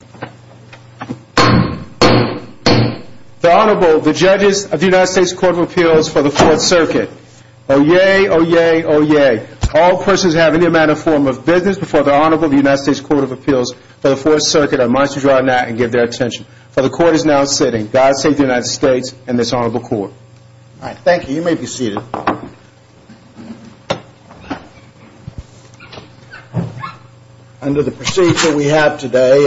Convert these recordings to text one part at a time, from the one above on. The Honorable, the judges of the United States Court of Appeals for the 4th Circuit. Oyez, oyez, oyez. All persons who have any amount or form of business before the Honorable of the United States Court of Appeals for the 4th Circuit are admonished to draw an act and give their attention. For the Court is now sitting. God save the United States and this Honorable Court. Under the procedure we have today,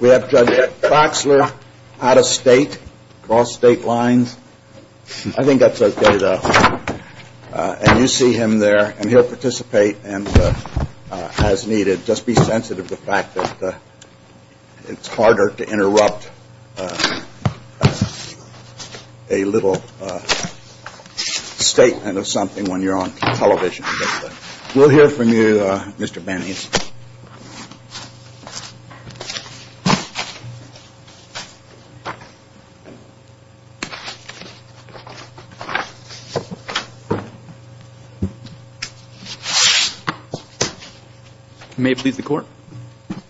we have Judge Boxler out of state, across state lines. I think that's okay though. And you see him there and he'll participate as needed. Just be sensitive to the fact that it's harder to interrupt a little statement of something when you're on television. We'll hear from you, Mr. Bannis. May it please the Court.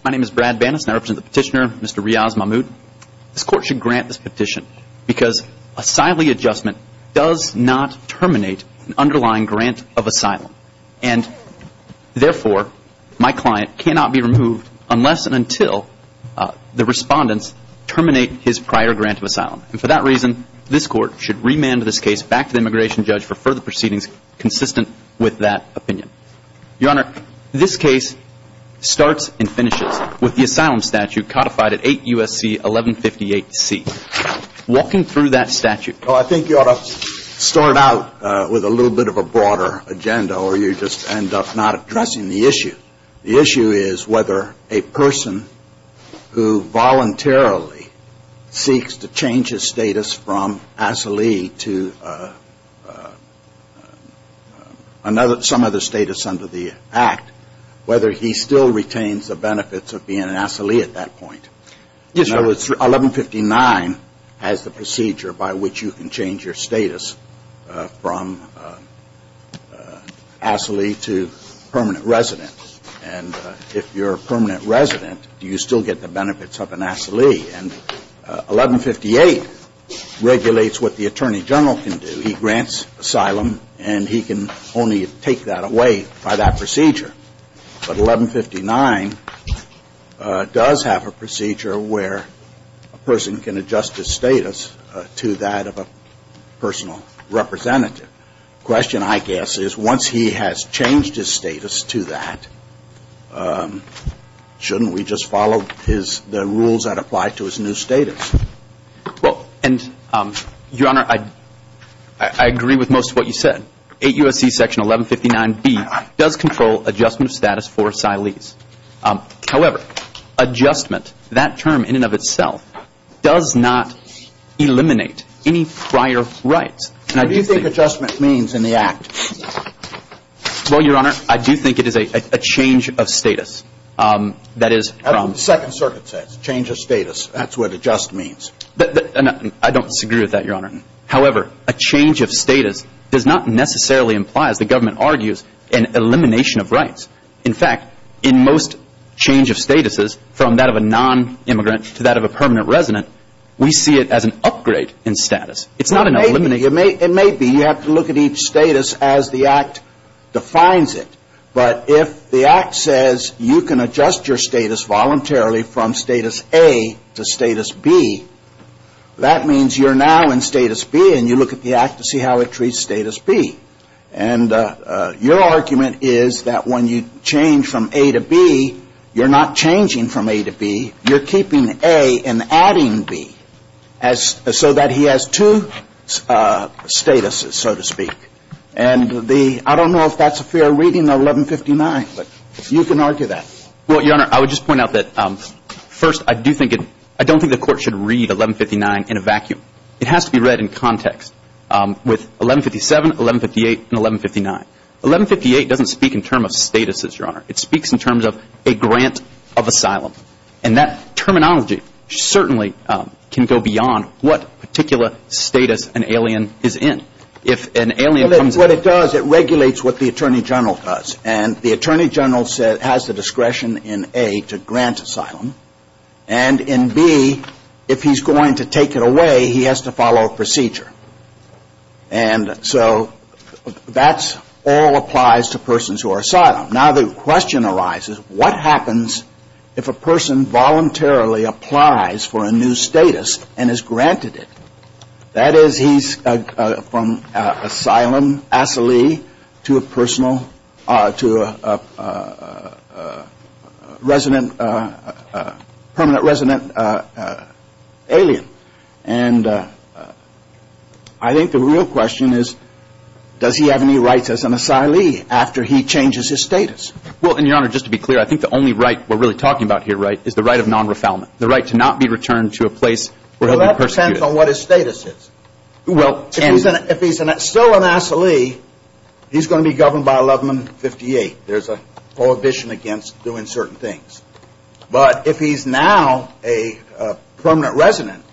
My name is Brad Bannis and I represent the petitioner, Mr. Riaz Mahmood. This Court should grant this petition because asylee adjustment does not terminate an underlying grant of asylum. And therefore, my client cannot be removed unless and until the respondents terminate his prior grant of asylum. And for that reason, this Court should remand this case back to the immigration judge for further proceedings consistent with that opinion. Your Honor, this case starts and finishes with the asylum statute codified at 8 U.S.C. 1158C. Walking through that statute. Well, I think you ought to start out with a little bit of a broader agenda or you just end up not addressing the issue. The issue is whether a person who voluntarily seeks to change his status from asylee to some other status under the Act, whether he still retains the benefits of being an asylee at that point. 1159 has the procedure by which you can change your status from asylee to permanent resident. And if you're a permanent resident, you still get the benefits of an asylee. And 1158 regulates what the Attorney General can do. He grants asylum and he can only take that away by that procedure. But 1159 does have a procedure where a person can adjust his status to that of a personal representative. The question, I guess, is once he has changed his status to that, shouldn't we just follow the rules that apply to his new status? Well, and, Your Honor, I agree with most of what you said. 8 U.S.C. Section 1159B does control adjustment of status for asylees. However, adjustment, that term in and of itself, does not eliminate any prior rights. What do you think adjustment means in the Act? Well, Your Honor, I do think it is a change of status. As the Second Circuit says, change of status. That's what adjust means. I don't disagree with that, Your Honor. However, a change of status does not necessarily imply, as the government argues, an elimination of rights. In fact, in most change of statuses, from that of a nonimmigrant to that of a permanent resident, we see it as an upgrade in status. It's not an elimination. It may be. You have to look at each status as the Act defines it. But if the Act says you can adjust your status voluntarily from status A to status B, that means you're now in status B, and you look at the Act to see how it treats status B. And your argument is that when you change from A to B, you're not changing from A to B. You're keeping A and adding B so that he has two statuses, so to speak. And I don't know if that's a fair reading of 1159, but you can argue that. Well, Your Honor, I would just point out that, first, I don't think the Court should read 1159 in a vacuum. It has to be read in context with 1157, 1158, and 1159. 1158 doesn't speak in terms of statuses, Your Honor. It speaks in terms of a grant of asylum. And that terminology certainly can go beyond what particular status an alien is in. If an alien comes in. Well, what it does, it regulates what the Attorney General does. And the Attorney General has the discretion in A to grant asylum. And in B, if he's going to take it away, he has to follow a procedure. And so that all applies to persons who are asylum. Now the question arises, what happens if a person voluntarily applies for a new status and is granted it? That is, he's from asylum, asylee, to a personal, to a resident, permanent resident alien. And I think the real question is, does he have any rights as an asylee after he changes his status? Well, and, Your Honor, just to be clear, I think the only right we're really talking about here, Wright, is the right of non-refoulement. The right to not be returned to a place where he'll be persecuted. Well, that depends on what his status is. Well, and. If he's still an asylee, he's going to be governed by 1158. There's a prohibition against doing certain things. But if he's now a permanent resident,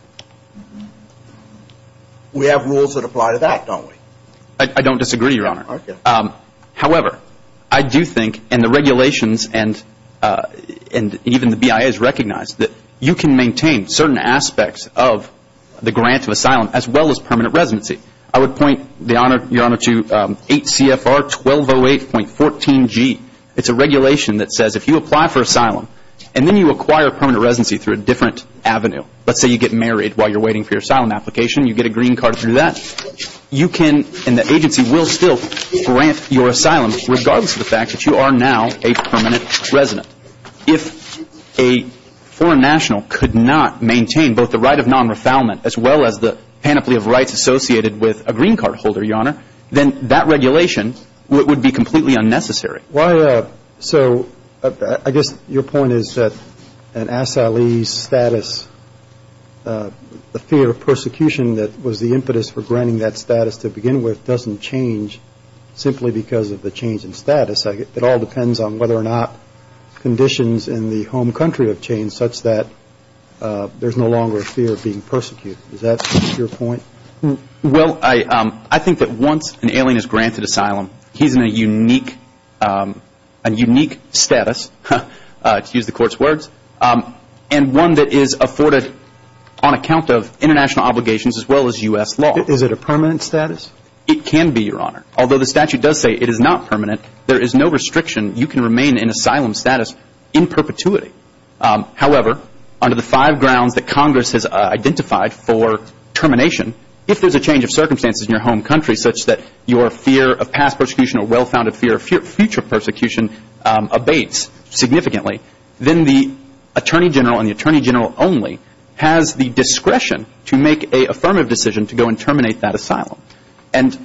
we have rules that apply to that, don't we? I don't disagree, Your Honor. Okay. However, I do think, and the regulations and even the BIA has recognized, that you can maintain certain aspects of the grant of asylum as well as permanent residency. I would point, Your Honor, to 8 CFR 1208.14G. It's a regulation that says if you apply for asylum and then you acquire permanent residency through a different avenue, let's say you get married while you're waiting for your asylum application and you get a green card through that, you can and the agency will still grant your asylum regardless of the fact that you are now a permanent resident. If a foreign national could not maintain both the right of non-refoulement as well as the panoply of rights associated with a green card holder, Your Honor, then that regulation would be completely unnecessary. So I guess your point is that an asylee's status, the fear of persecution that was the impetus for granting that status to begin with, doesn't change simply because of the change in status. It all depends on whether or not conditions in the home country have changed such that there's no longer a fear of being persecuted. Is that your point? Well, I think that once an alien is granted asylum, he's in a unique status, to use the court's words, and one that is afforded on account of international obligations as well as U.S. law. Is it a permanent status? It can be, Your Honor. Although the statute does say it is not permanent, there is no restriction. You can remain in asylum status in perpetuity. However, under the five grounds that Congress has identified for termination, if there's a change of circumstances in your home country such that your fear of past persecution or well-founded fear of future persecution abates significantly, then the Attorney General and the Attorney General only has the discretion to make an affirmative decision to go and terminate that asylum. And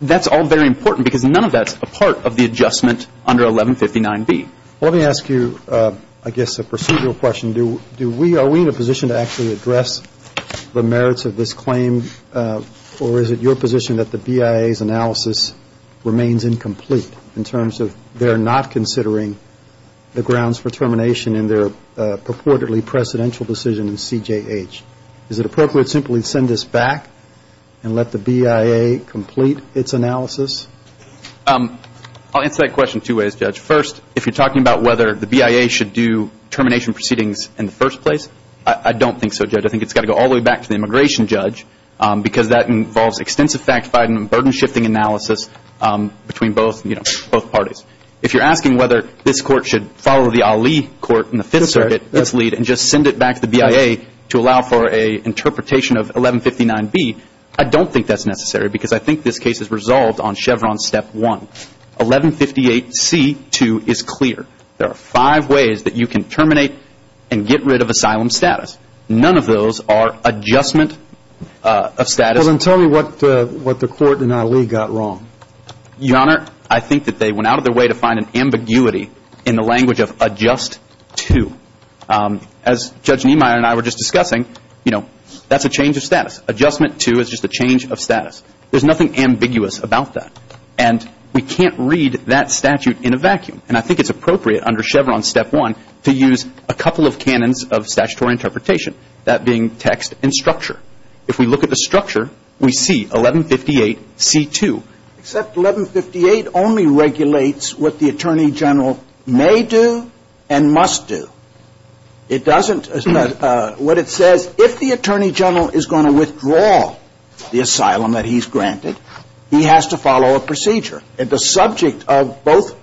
that's all very important because none of that's a part of the adjustment under 1159B. Let me ask you, I guess, a procedural question. Are we in a position to actually address the merits of this claim, or is it your position that the BIA's analysis remains incomplete in terms of they're not considering the grounds for termination in their purportedly precedential decision in CJH? Is it appropriate to simply send this back and let the BIA complete its analysis? I'll answer that question two ways, Judge. First, if you're talking about whether the BIA should do termination proceedings in the first place, I don't think so, Judge. I think it's got to go all the way back to the immigration judge, because that involves extensive fact-finding and burden-shifting analysis between both parties. If you're asking whether this Court should follow the Ali Court in the Fifth Circuit, its lead, and just send it back to the BIA to allow for an interpretation of 1159B, I don't think that's necessary because I think this case is resolved on Chevron Step 1. 1158C2 is clear. There are five ways that you can terminate and get rid of asylum status. None of those are adjustment of status. Well, then tell me what the Court and Ali got wrong. Your Honor, I think that they went out of their way to find an ambiguity in the language of adjust to. As Judge Niemeyer and I were just discussing, that's a change of status. Adjustment to is just a change of status. There's nothing ambiguous about that. And we can't read that statute in a vacuum. And I think it's appropriate under Chevron Step 1 to use a couple of canons of statutory interpretation, that being text and structure. If we look at the structure, we see 1158C2. Except 1158 only regulates what the Attorney General may do and must do. It doesn't – what it says, if the Attorney General is going to withdraw the asylum that he's granted, he has to follow a procedure. And the subject of both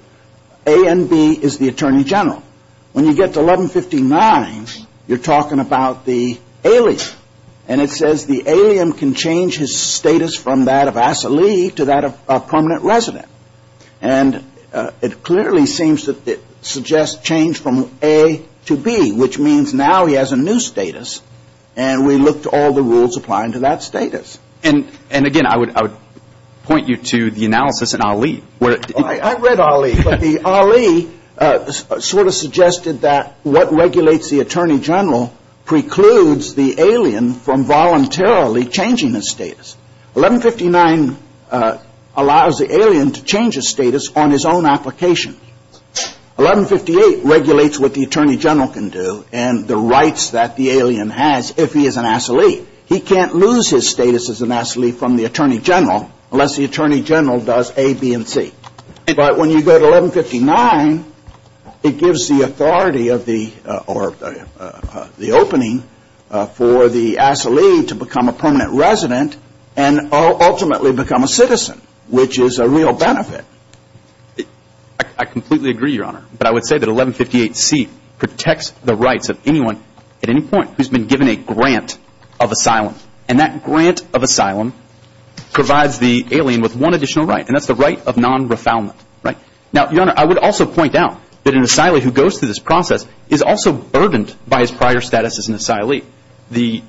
A and B is the Attorney General. When you get to 1159, you're talking about the alien. And it says the alien can change his status from that of asylee to that of permanent resident. And it clearly seems that it suggests change from A to B, which means now he has a new status. And, again, I would point you to the analysis in Ali. I read Ali. But Ali sort of suggested that what regulates the Attorney General precludes the alien from voluntarily changing his status. 1159 allows the alien to change his status on his own application. 1158 regulates what the Attorney General can do and the rights that the alien has if he is an asylee. He can't lose his status as an asylee from the Attorney General unless the Attorney General does A, B, and C. But when you go to 1159, it gives the authority of the – or the opening for the asylee to become a permanent resident and ultimately become a citizen, which is a real benefit. I completely agree, Your Honor. But I would say that 1158C protects the rights of anyone at any point who's been given a grant of asylum. And that grant of asylum provides the alien with one additional right, and that's the right of non-refoulement. Now, Your Honor, I would also point out that an asylee who goes through this process is also burdened by his prior status as an asylee. The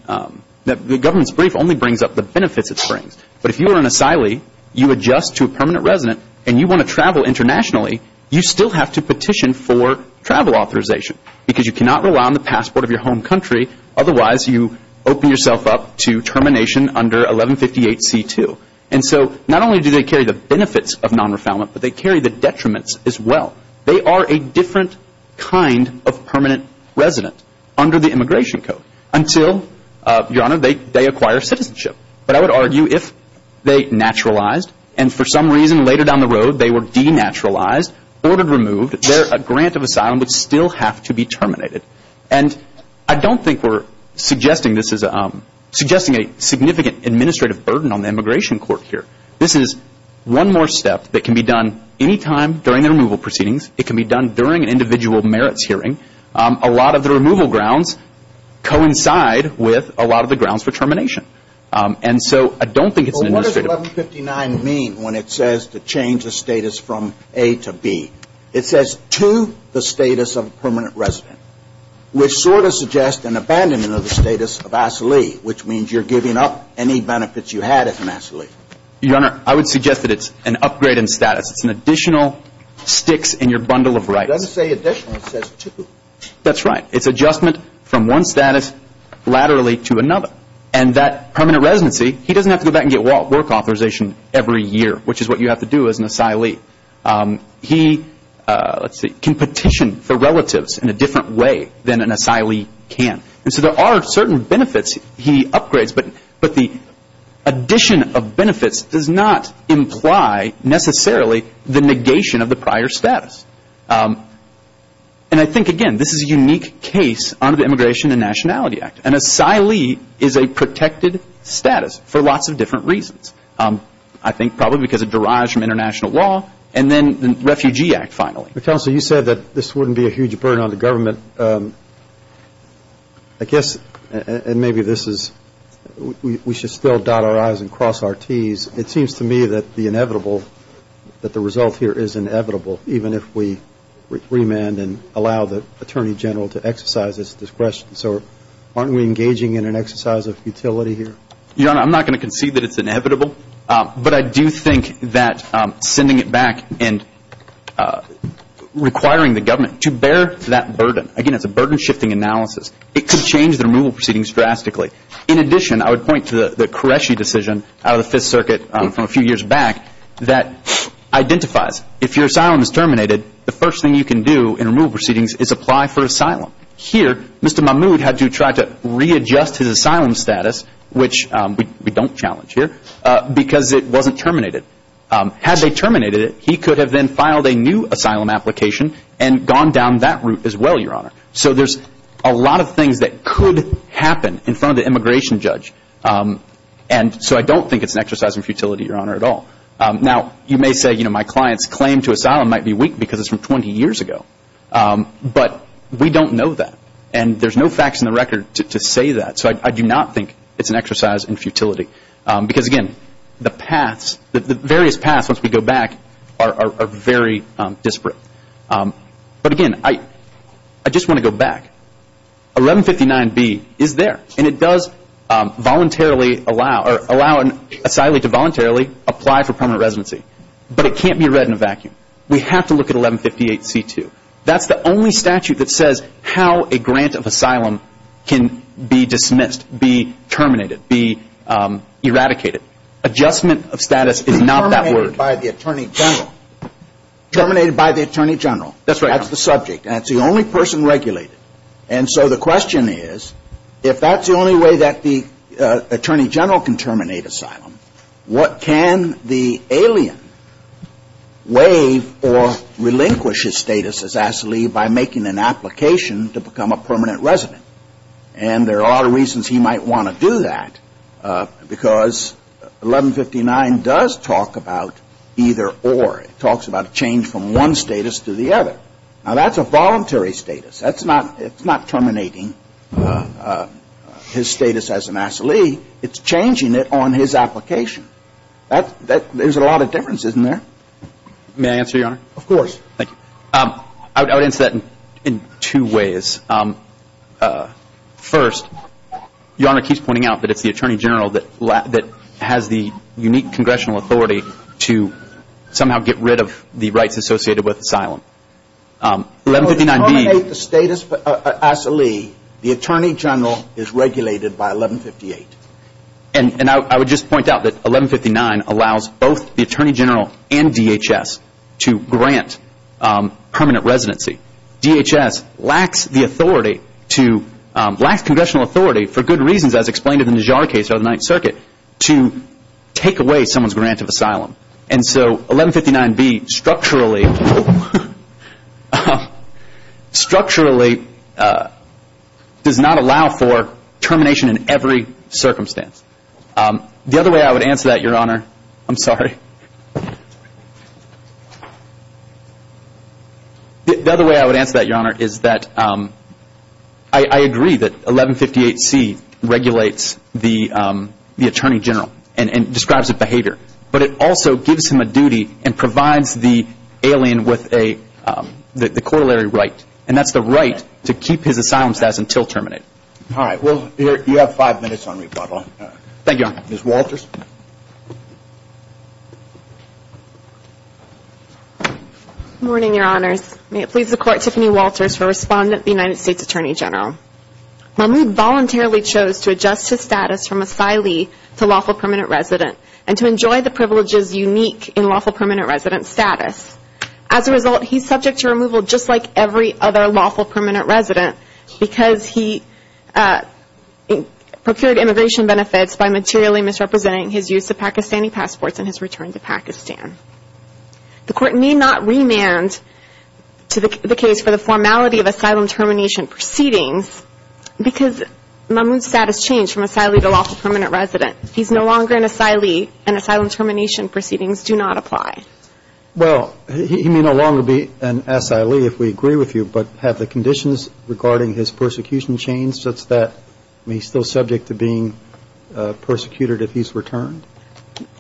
government's brief only brings up the benefits it brings. But if you are an asylee, you adjust to a permanent resident, and you want to travel internationally, you still have to petition for travel authorization because you cannot rely on the passport of your home country. Otherwise, you open yourself up to termination under 1158C2. And so not only do they carry the benefits of non-refoulement, but they carry the detriments as well. They are a different kind of permanent resident under the Immigration Code until, Your Honor, they acquire citizenship. But I would argue if they naturalized and for some reason later down the road they were denaturalized, ordered removed, their grant of asylum would still have to be terminated. And I don't think we're suggesting a significant administrative burden on the Immigration Court here. This is one more step that can be done any time during the removal proceedings. It can be done during an individual merits hearing. A lot of the removal grounds coincide with a lot of the grounds for termination. And so I don't think it's an administrative burden. Well, what does 1159 mean when it says to change the status from A to B? It says to the status of a permanent resident, which sort of suggests an abandonment of the status of asylee, which means you're giving up any benefits you had as an asylee. Your Honor, I would suggest that it's an upgrade in status. It's an additional sticks in your bundle of rice. It doesn't say additional, it says to. That's right. It's adjustment from one status laterally to another. And that permanent residency, he doesn't have to go back and get work authorization every year, which is what you have to do as an asylee. He, let's see, can petition for relatives in a different way than an asylee can. And so there are certain benefits he upgrades, but the addition of benefits does not imply necessarily the negation of the prior status. And I think, again, this is a unique case under the Immigration and Nationality Act. An asylee is a protected status for lots of different reasons. I think probably because it derives from international law and then the Refugee Act, finally. Counsel, you said that this wouldn't be a huge burden on the government. I guess, and maybe this is, we should still dot our I's and cross our T's. It seems to me that the inevitable, that the result here is inevitable, even if we remand and allow the Attorney General to exercise his discretion. So aren't we engaging in an exercise of futility here? Your Honor, I'm not going to concede that it's inevitable, but I do think that sending it back and requiring the government to bear that burden. Again, it's a burden-shifting analysis. It could change the removal proceedings drastically. In addition, I would point to the Qureshi decision out of the Fifth Circuit from a few years back that identifies. If your asylum is terminated, the first thing you can do in removal proceedings is apply for asylum. Here, Mr. Mahmoud had to try to readjust his asylum status, which we don't challenge here, because it wasn't terminated. Had they terminated it, he could have then filed a new asylum application and gone down that route as well, Your Honor. So there's a lot of things that could happen in front of the immigration judge. And so I don't think it's an exercise in futility, Your Honor, at all. Now, you may say, you know, my client's claim to asylum might be weak because it's from 20 years ago. But we don't know that. And there's no facts in the record to say that. So I do not think it's an exercise in futility. Because, again, the paths, the various paths once we go back are very disparate. But, again, I just want to go back. 1159B is there, and it does voluntarily allow an asylee to voluntarily apply for permanent residency. But it can't be read in a vacuum. We have to look at 1158C2. That's the only statute that says how a grant of asylum can be dismissed, be terminated, be eradicated. Adjustment of status is not that word. Terminated by the Attorney General. Terminated by the Attorney General. That's right, Your Honor. That's the subject. That's the only person regulated. And so the question is, if that's the only way that the Attorney General can terminate asylum, what can the alien waive or relinquish his status as asylee by making an application to become a permanent resident? And there are reasons he might want to do that. Because 1159 does talk about either or. It talks about a change from one status to the other. Now, that's a voluntary status. That's not terminating his status as an asylee. It's changing it on his application. There's a lot of differences in there. May I answer, Your Honor? Of course. Thank you. I would answer that in two ways. First, Your Honor keeps pointing out that it's the Attorney General that has the unique congressional authority to somehow get rid of the rights associated with asylum. To terminate the status of asylee, the Attorney General is regulated by 1158. And I would just point out that 1159 allows both the Attorney General and DHS to grant permanent residency. DHS lacks the authority to, lacks congressional authority for good reasons as explained in the Jarre case or the Ninth Circuit, to take away someone's grant of asylum. And so 1159B structurally does not allow for termination in every circumstance. The other way I would answer that, Your Honor, is that I agree that 1158C regulates the Attorney General and describes its behavior. But it also gives him a duty and provides the alien with the corollary right. And that's the right to keep his asylum status until terminated. All right. Well, you have five minutes on rebuttal. Thank you, Your Honor. Ms. Walters. Good morning, Your Honors. May it please the Court, Tiffany Walters, for Respondent of the United States Attorney General. Mahmoud voluntarily chose to adjust his status from asylee to lawful permanent resident and to enjoy the privileges unique in lawful permanent resident status. As a result, he's subject to removal just like every other lawful permanent resident because he procured immigration benefits by materially misrepresenting his use of Pakistani passports in his return to Pakistan. The Court need not remand the case for the formality of asylum termination proceedings because Mahmoud's status changed from asylee to lawful permanent resident. He's no longer an asylee, and asylum termination proceedings do not apply. Well, he may no longer be an asylee if we agree with you, but have the conditions regarding his persecution changed such that he's still subject to being persecuted if he's returned?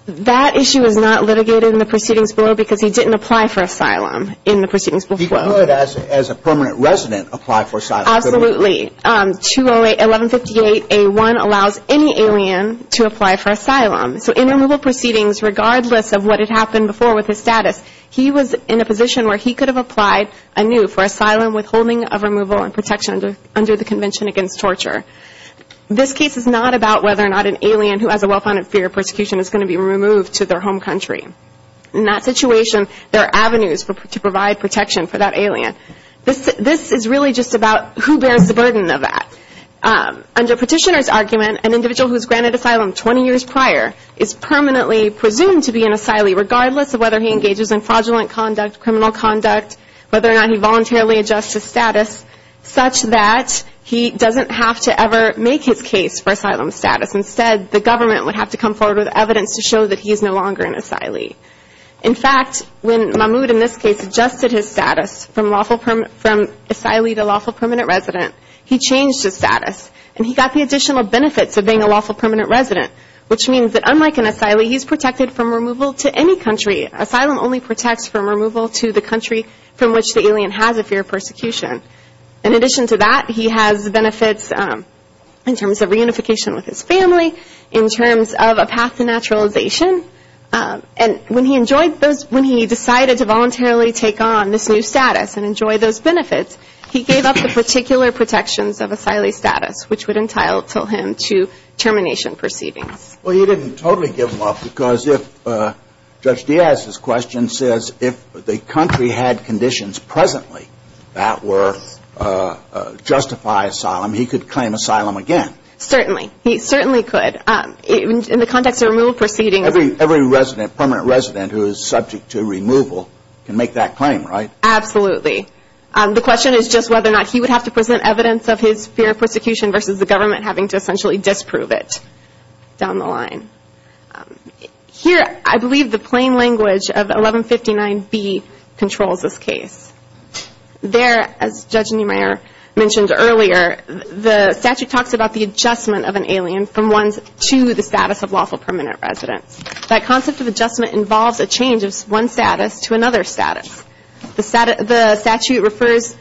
That issue is not litigated in the proceedings below because he didn't apply for asylum in the proceedings before. He could, as a permanent resident, apply for asylum. Absolutely. 1158A1 allows any alien to apply for asylum. So in removal proceedings, regardless of what had happened before with his status, he was in a position where he could have applied anew for asylum withholding of removal and protection under the Convention Against Torture. This case is not about whether or not an alien who has a well-founded fear of persecution is going to be removed to their home country. In that situation, there are avenues to provide protection for that alien. This is really just about who bears the burden of that. Under Petitioner's argument, an individual who is granted asylum 20 years prior is permanently presumed to be an asylee, regardless of whether he engages in fraudulent conduct, criminal conduct, whether or not he voluntarily adjusts his status such that he doesn't have to ever make his case for asylum status. Instead, the government would have to come forward with evidence to show that he is no longer an asylee. In fact, when Mahmoud in this case adjusted his status from asylee to lawful permanent resident, he changed his status and he got the additional benefits of being a lawful permanent resident, which means that unlike an asylee, he is protected from removal to any country. Asylum only protects from removal to the country from which the alien has a fear of persecution. In addition to that, he has benefits in terms of reunification with his family, in terms of a path to naturalization, and when he enjoyed those, when he decided to voluntarily take on this new status and enjoy those benefits, he gave up the particular protections of asylee status, which would entitle him to termination proceedings. Well, he didn't totally give them up because if, Judge Diaz's question says, if the country had conditions presently that were, justify asylum, he could claim asylum again. Certainly. He certainly could. In the context of removal proceedings. Every resident, permanent resident who is subject to removal can make that claim, right? Absolutely. The question is just whether or not he would have to present evidence of his fear of persecution versus the government having to essentially disprove it down the line. Here, I believe the plain language of 1159B controls this case. There, as Judge Niemeyer mentioned earlier, the statute talks about the adjustment of an alien from one's to the status of lawful permanent residence. That concept of adjustment involves a change of one status to another status. The statute refers,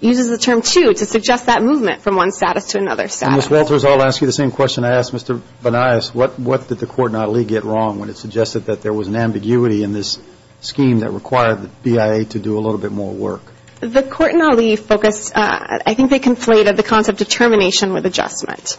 uses the term to, to suggest that movement from one status to another status. Ms. Walters, I'll ask you the same question I asked Mr. Banais. What did the court not only get wrong when it suggested that there was an ambiguity in this scheme that required the BIA to do a little bit more work? The court in Ali focused, I think they conflated the concept of termination with adjustment.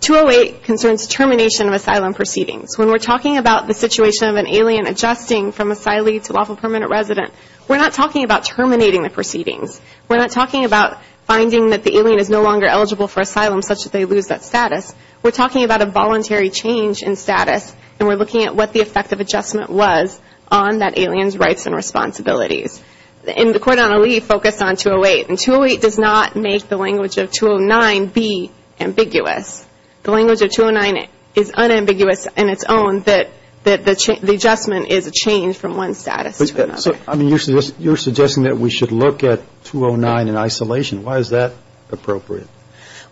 208 concerns termination of asylum proceedings. When we're talking about the situation of an alien adjusting from asylee to lawful permanent resident, we're not talking about terminating the proceedings. We're not talking about finding that the alien is no longer eligible for asylum such that they lose that status. We're talking about a voluntary change in status, and we're looking at what the effect of adjustment was on that alien's rights and responsibilities. And the court in Ali focused on 208, and 208 does not make the language of 209 be ambiguous. The language of 209 is unambiguous in its own that the adjustment is a change from one status to another. So, I mean, you're suggesting that we should look at 209 in isolation. Why is that appropriate?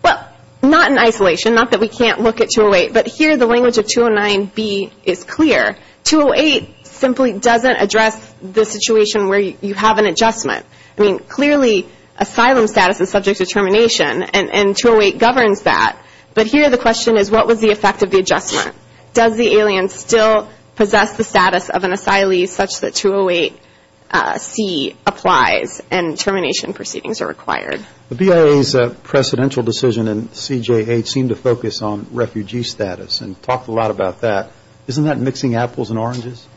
Well, not in isolation, not that we can't look at 208, but here the language of 209B is clear. 208 simply doesn't address the situation where you have an adjustment. I mean, clearly, asylum status is subject to termination, and 208 governs that. But here the question is, what was the effect of the adjustment? Does the alien still possess the status of an asylee such that 208C applies and termination proceedings are required? The BIA's precedential decision in CJA seemed to focus on refugee status and talked a lot about that. Isn't that mixing apples and oranges?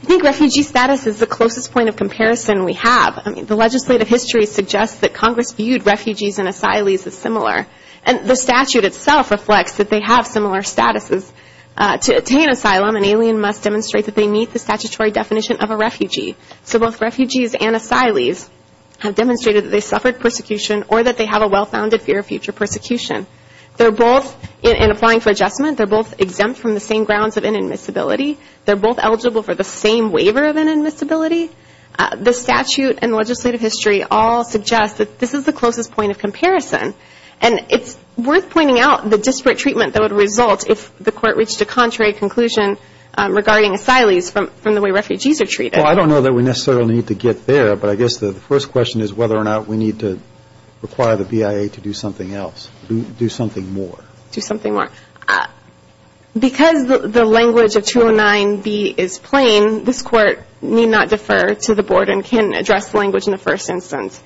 I think refugee status is the closest point of comparison we have. I mean, the legislative history suggests that Congress viewed refugees and asylees as similar, and the statute itself reflects that they have similar statuses. To attain asylum, an alien must demonstrate that they meet the statutory definition of a refugee. So both refugees and asylees have demonstrated that they suffered persecution or that they have a well-founded fear of future persecution. They're both, in applying for adjustment, they're both exempt from the same grounds of inadmissibility. They're both eligible for the same waiver of inadmissibility. The statute and legislative history all suggest that this is the closest point of comparison, and it's worth pointing out the disparate treatment that would result if the court reached a contrary conclusion regarding asylees from the way refugees are treated. Well, I don't know that we necessarily need to get there, but I guess the first question is whether or not we need to require the BIA to do something else, do something more. Do something more. Because the language of 209B is plain, this Court need not defer to the Board and can't address the language in the first instance.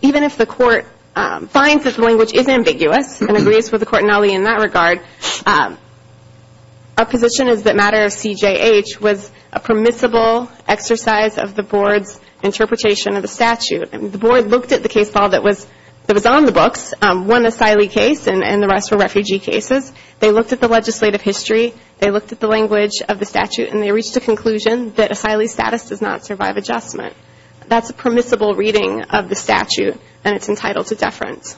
Even if the Court finds that the language is ambiguous and agrees with the Court in that regard, our position is that matter of CJH was a permissible exercise of the Board's interpretation of the statute. The Board looked at the case file that was on the books, one asylee case and the rest were refugee cases. They looked at the legislative history. They looked at the language of the statute, and they reached a conclusion that asylee status does not survive adjustment. That's a permissible reading of the statute, and it's entitled to deference.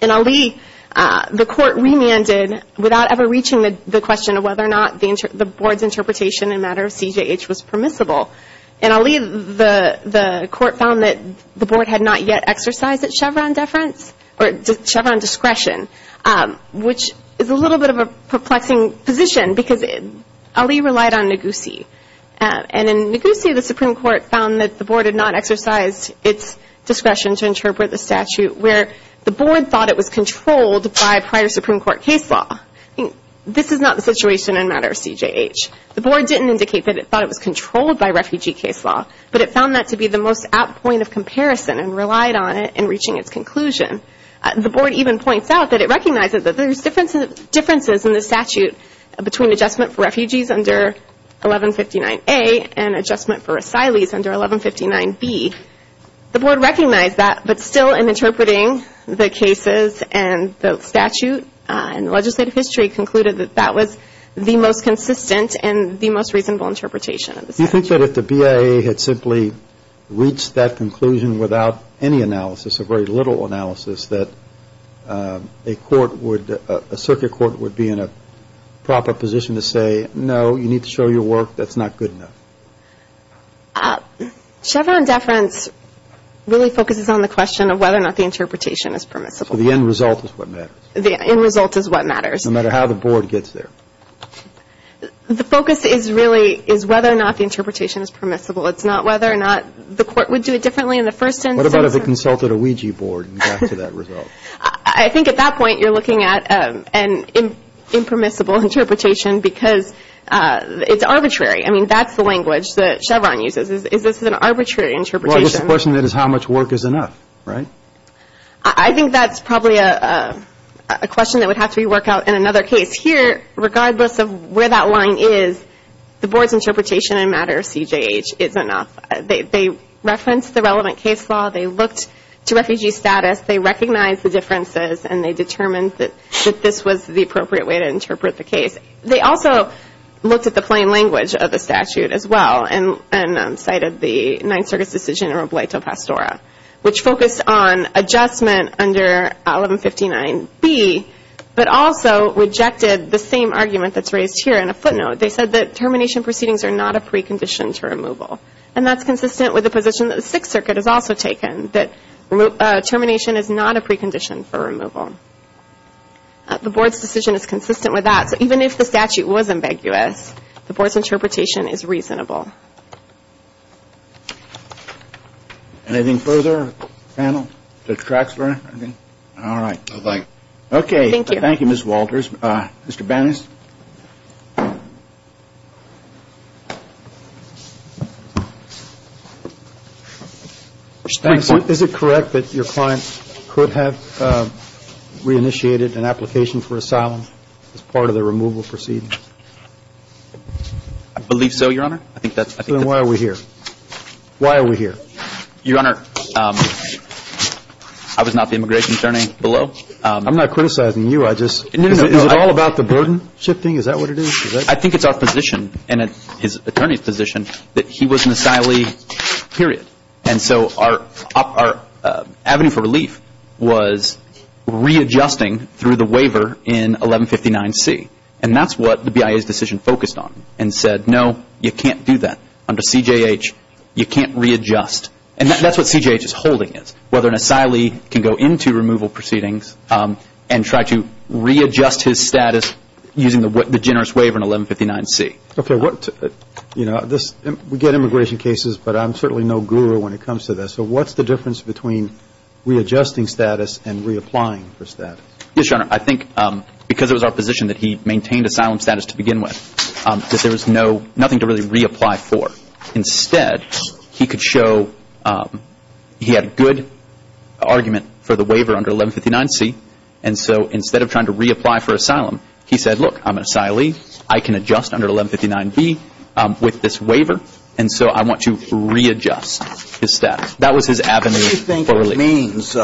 In Ali, the Court remanded without ever reaching the question of whether or not the Board's interpretation in matter of CJH was permissible. In Ali, the Court found that the Board had not yet exercised its Chevron deference or Chevron discretion, which is a little bit of a perplexing position because Ali relied on Ngozi. And in Ngozi, the Supreme Court found that the Board had not exercised its discretion to interpret the statute where the Board thought it was controlled by prior Supreme Court case law. This is not the situation in matter of CJH. The Board didn't indicate that it thought it was controlled by refugee case law, but it found that to be the most apt point of comparison and relied on it in reaching its conclusion. The Board even points out that it recognizes that there's differences in the statute between adjustment for refugees under 1159A and adjustment for asylees under 1159B. The Board recognized that, but still in interpreting the cases and the statute and the legislative history concluded that that was the most consistent and the most reasonable interpretation of the statute. Do you think that if the BIA had simply reached that conclusion without any analysis, a very little analysis, that a circuit court would be in a proper position to say, no, you need to show your work, that's not good enough? Chevron deference really focuses on the question of whether or not the interpretation is permissible. So the end result is what matters. The end result is what matters. No matter how the Board gets there. The focus is really is whether or not the interpretation is permissible. It's not whether or not the Court would do it differently in the first instance. What about if it consulted a Ouija board and got to that result? I think at that point you're looking at an impermissible interpretation because it's arbitrary. I mean, that's the language that Chevron uses. Is this an arbitrary interpretation? Well, I guess the question is how much work is enough, right? I think that's probably a question that would have to be worked out in another case. Here, regardless of where that line is, the Board's interpretation in a matter of CJH is enough. They referenced the relevant case law. They looked to refugee status. They recognized the differences and they determined that this was the appropriate way to interpret the case. They also looked at the plain language of the statute as well and cited the Ninth Circuit's decision in Robledo Pastora, which focused on adjustment under 1159B but also rejected the same argument that's raised here in a footnote. They said that termination proceedings are not a precondition to removal. And that's consistent with the position that the Sixth Circuit has also taken, The Board's decision is consistent with that. So even if the statute was ambiguous, the Board's interpretation is reasonable. Anything further? Panel? All right. Okay. Thank you. Thank you, Ms. Walters. Mr. Banas? Is it correct that your client could have reinitiated an application for asylum as part of the removal proceedings? I believe so, Your Honor. Then why are we here? Why are we here? Your Honor, I was not the immigration attorney below. I'm not criticizing you. I just – is it all about the burden? I think it's our position and his attorney's position that he was an asylee, period. And so our avenue for relief was readjusting through the waiver in 1159C. And that's what the BIA's decision focused on and said, no, you can't do that. Under CJH, you can't readjust. And that's what CJH is holding is, whether an asylee can go into removal proceedings and try to readjust his status using the generous waiver in 1159C. Okay. You know, we get immigration cases, but I'm certainly no guru when it comes to this. So what's the difference between readjusting status and reapplying for status? Yes, Your Honor. I think because it was our position that he maintained asylum status to begin with, that there was nothing to really reapply for. Instead, he could show he had a good argument for the waiver under 1159C. And so instead of trying to reapply for asylum, he said, look, I'm an asylee. I can adjust under 1159B with this waiver. And so I want to readjust his status. That was his avenue for relief. What do you think it means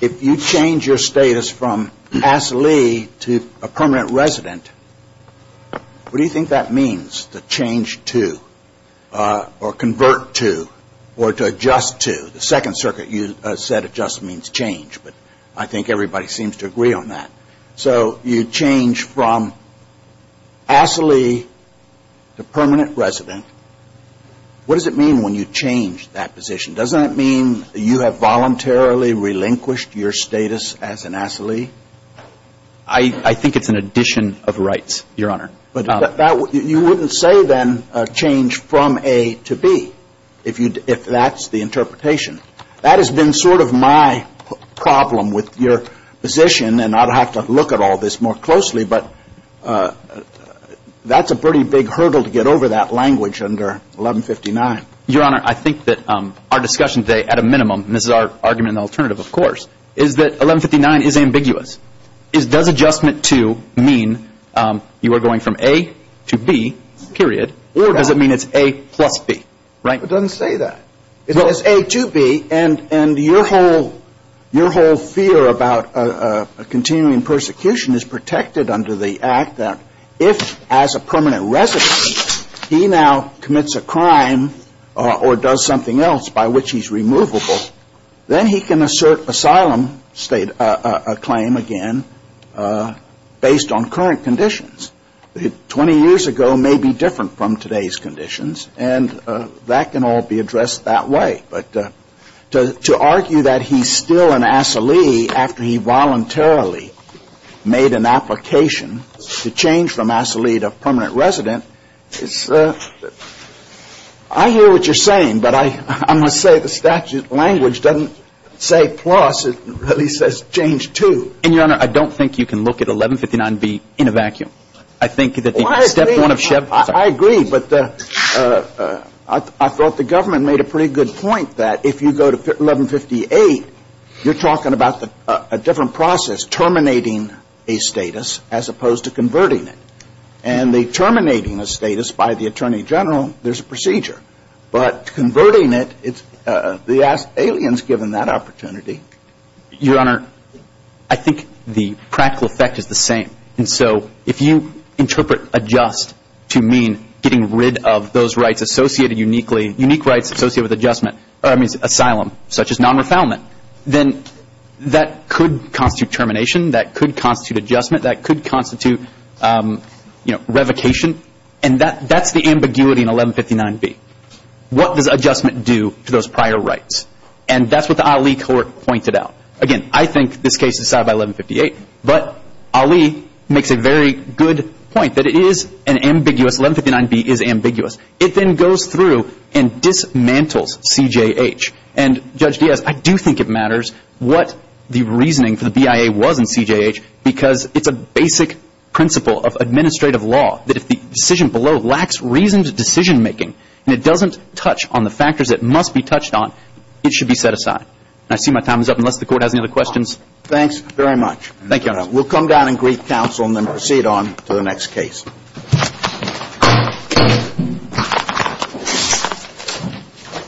if you change your status from asylee to a permanent resident? What do you think that means, to change to or convert to or to adjust to? The Second Circuit, you said adjust means change. But I think everybody seems to agree on that. So you change from asylee to permanent resident. What does it mean when you change that position? Doesn't it mean you have voluntarily relinquished your status as an asylee? I think it's an addition of rights, Your Honor. But you wouldn't say then change from A to B, if that's the interpretation. That has been sort of my problem with your position. And I'd have to look at all this more closely. But that's a pretty big hurdle to get over, that language under 1159. Your Honor, I think that our discussion today, at a minimum, and this is our argument in the alternative, of course, is that 1159 is ambiguous. Does adjustment to mean you are going from A to B, period, or does it mean it's A plus B? It doesn't say that. It's A to B. And your whole fear about continuing persecution is protected under the act that if, as a permanent resident, he now commits a crime or does something else by which he's removable, then he can assert asylum claim again based on current conditions. Twenty years ago may be different from today's conditions, and that can all be addressed that way. But to argue that he's still an asylee after he voluntarily made an application to change from asylee to permanent resident, I hear what you're saying, but I'm going to say the statute language doesn't say plus. It really says change to. And, your Honor, I don't think you can look at 1159B in a vacuum. I think that the step one of Chevron… I agree, but I thought the government made a pretty good point that if you go to 1158, you're talking about a different process, terminating a status as opposed to converting it. And the terminating a status by the Attorney General, there's a procedure. But converting it, the alien's given that opportunity. Your Honor, I think the practical effect is the same. And so if you interpret adjust to mean getting rid of those rights associated uniquely, unique rights associated with adjustment, or I mean asylum, such as non-refoulement, then that could constitute termination. That could constitute adjustment. That could constitute, you know, revocation. And that's the ambiguity in 1159B. What does adjustment do to those prior rights? And that's what the Ali court pointed out. Again, I think this case is decided by 1158, but Ali makes a very good point that it is an ambiguous. 1159B is ambiguous. It then goes through and dismantles CJH. And, Judge Diaz, I do think it matters what the reasoning for the BIA was in CJH because it's a basic principle of administrative law that if the decision below lacks reasoned decision making and it doesn't touch on the factors it must be touched on, it should be set aside. And I see my time is up, unless the Court has any other questions. Thanks very much. Thank you, Your Honor. We'll come down and greet counsel and then proceed on to the next case. Thank you.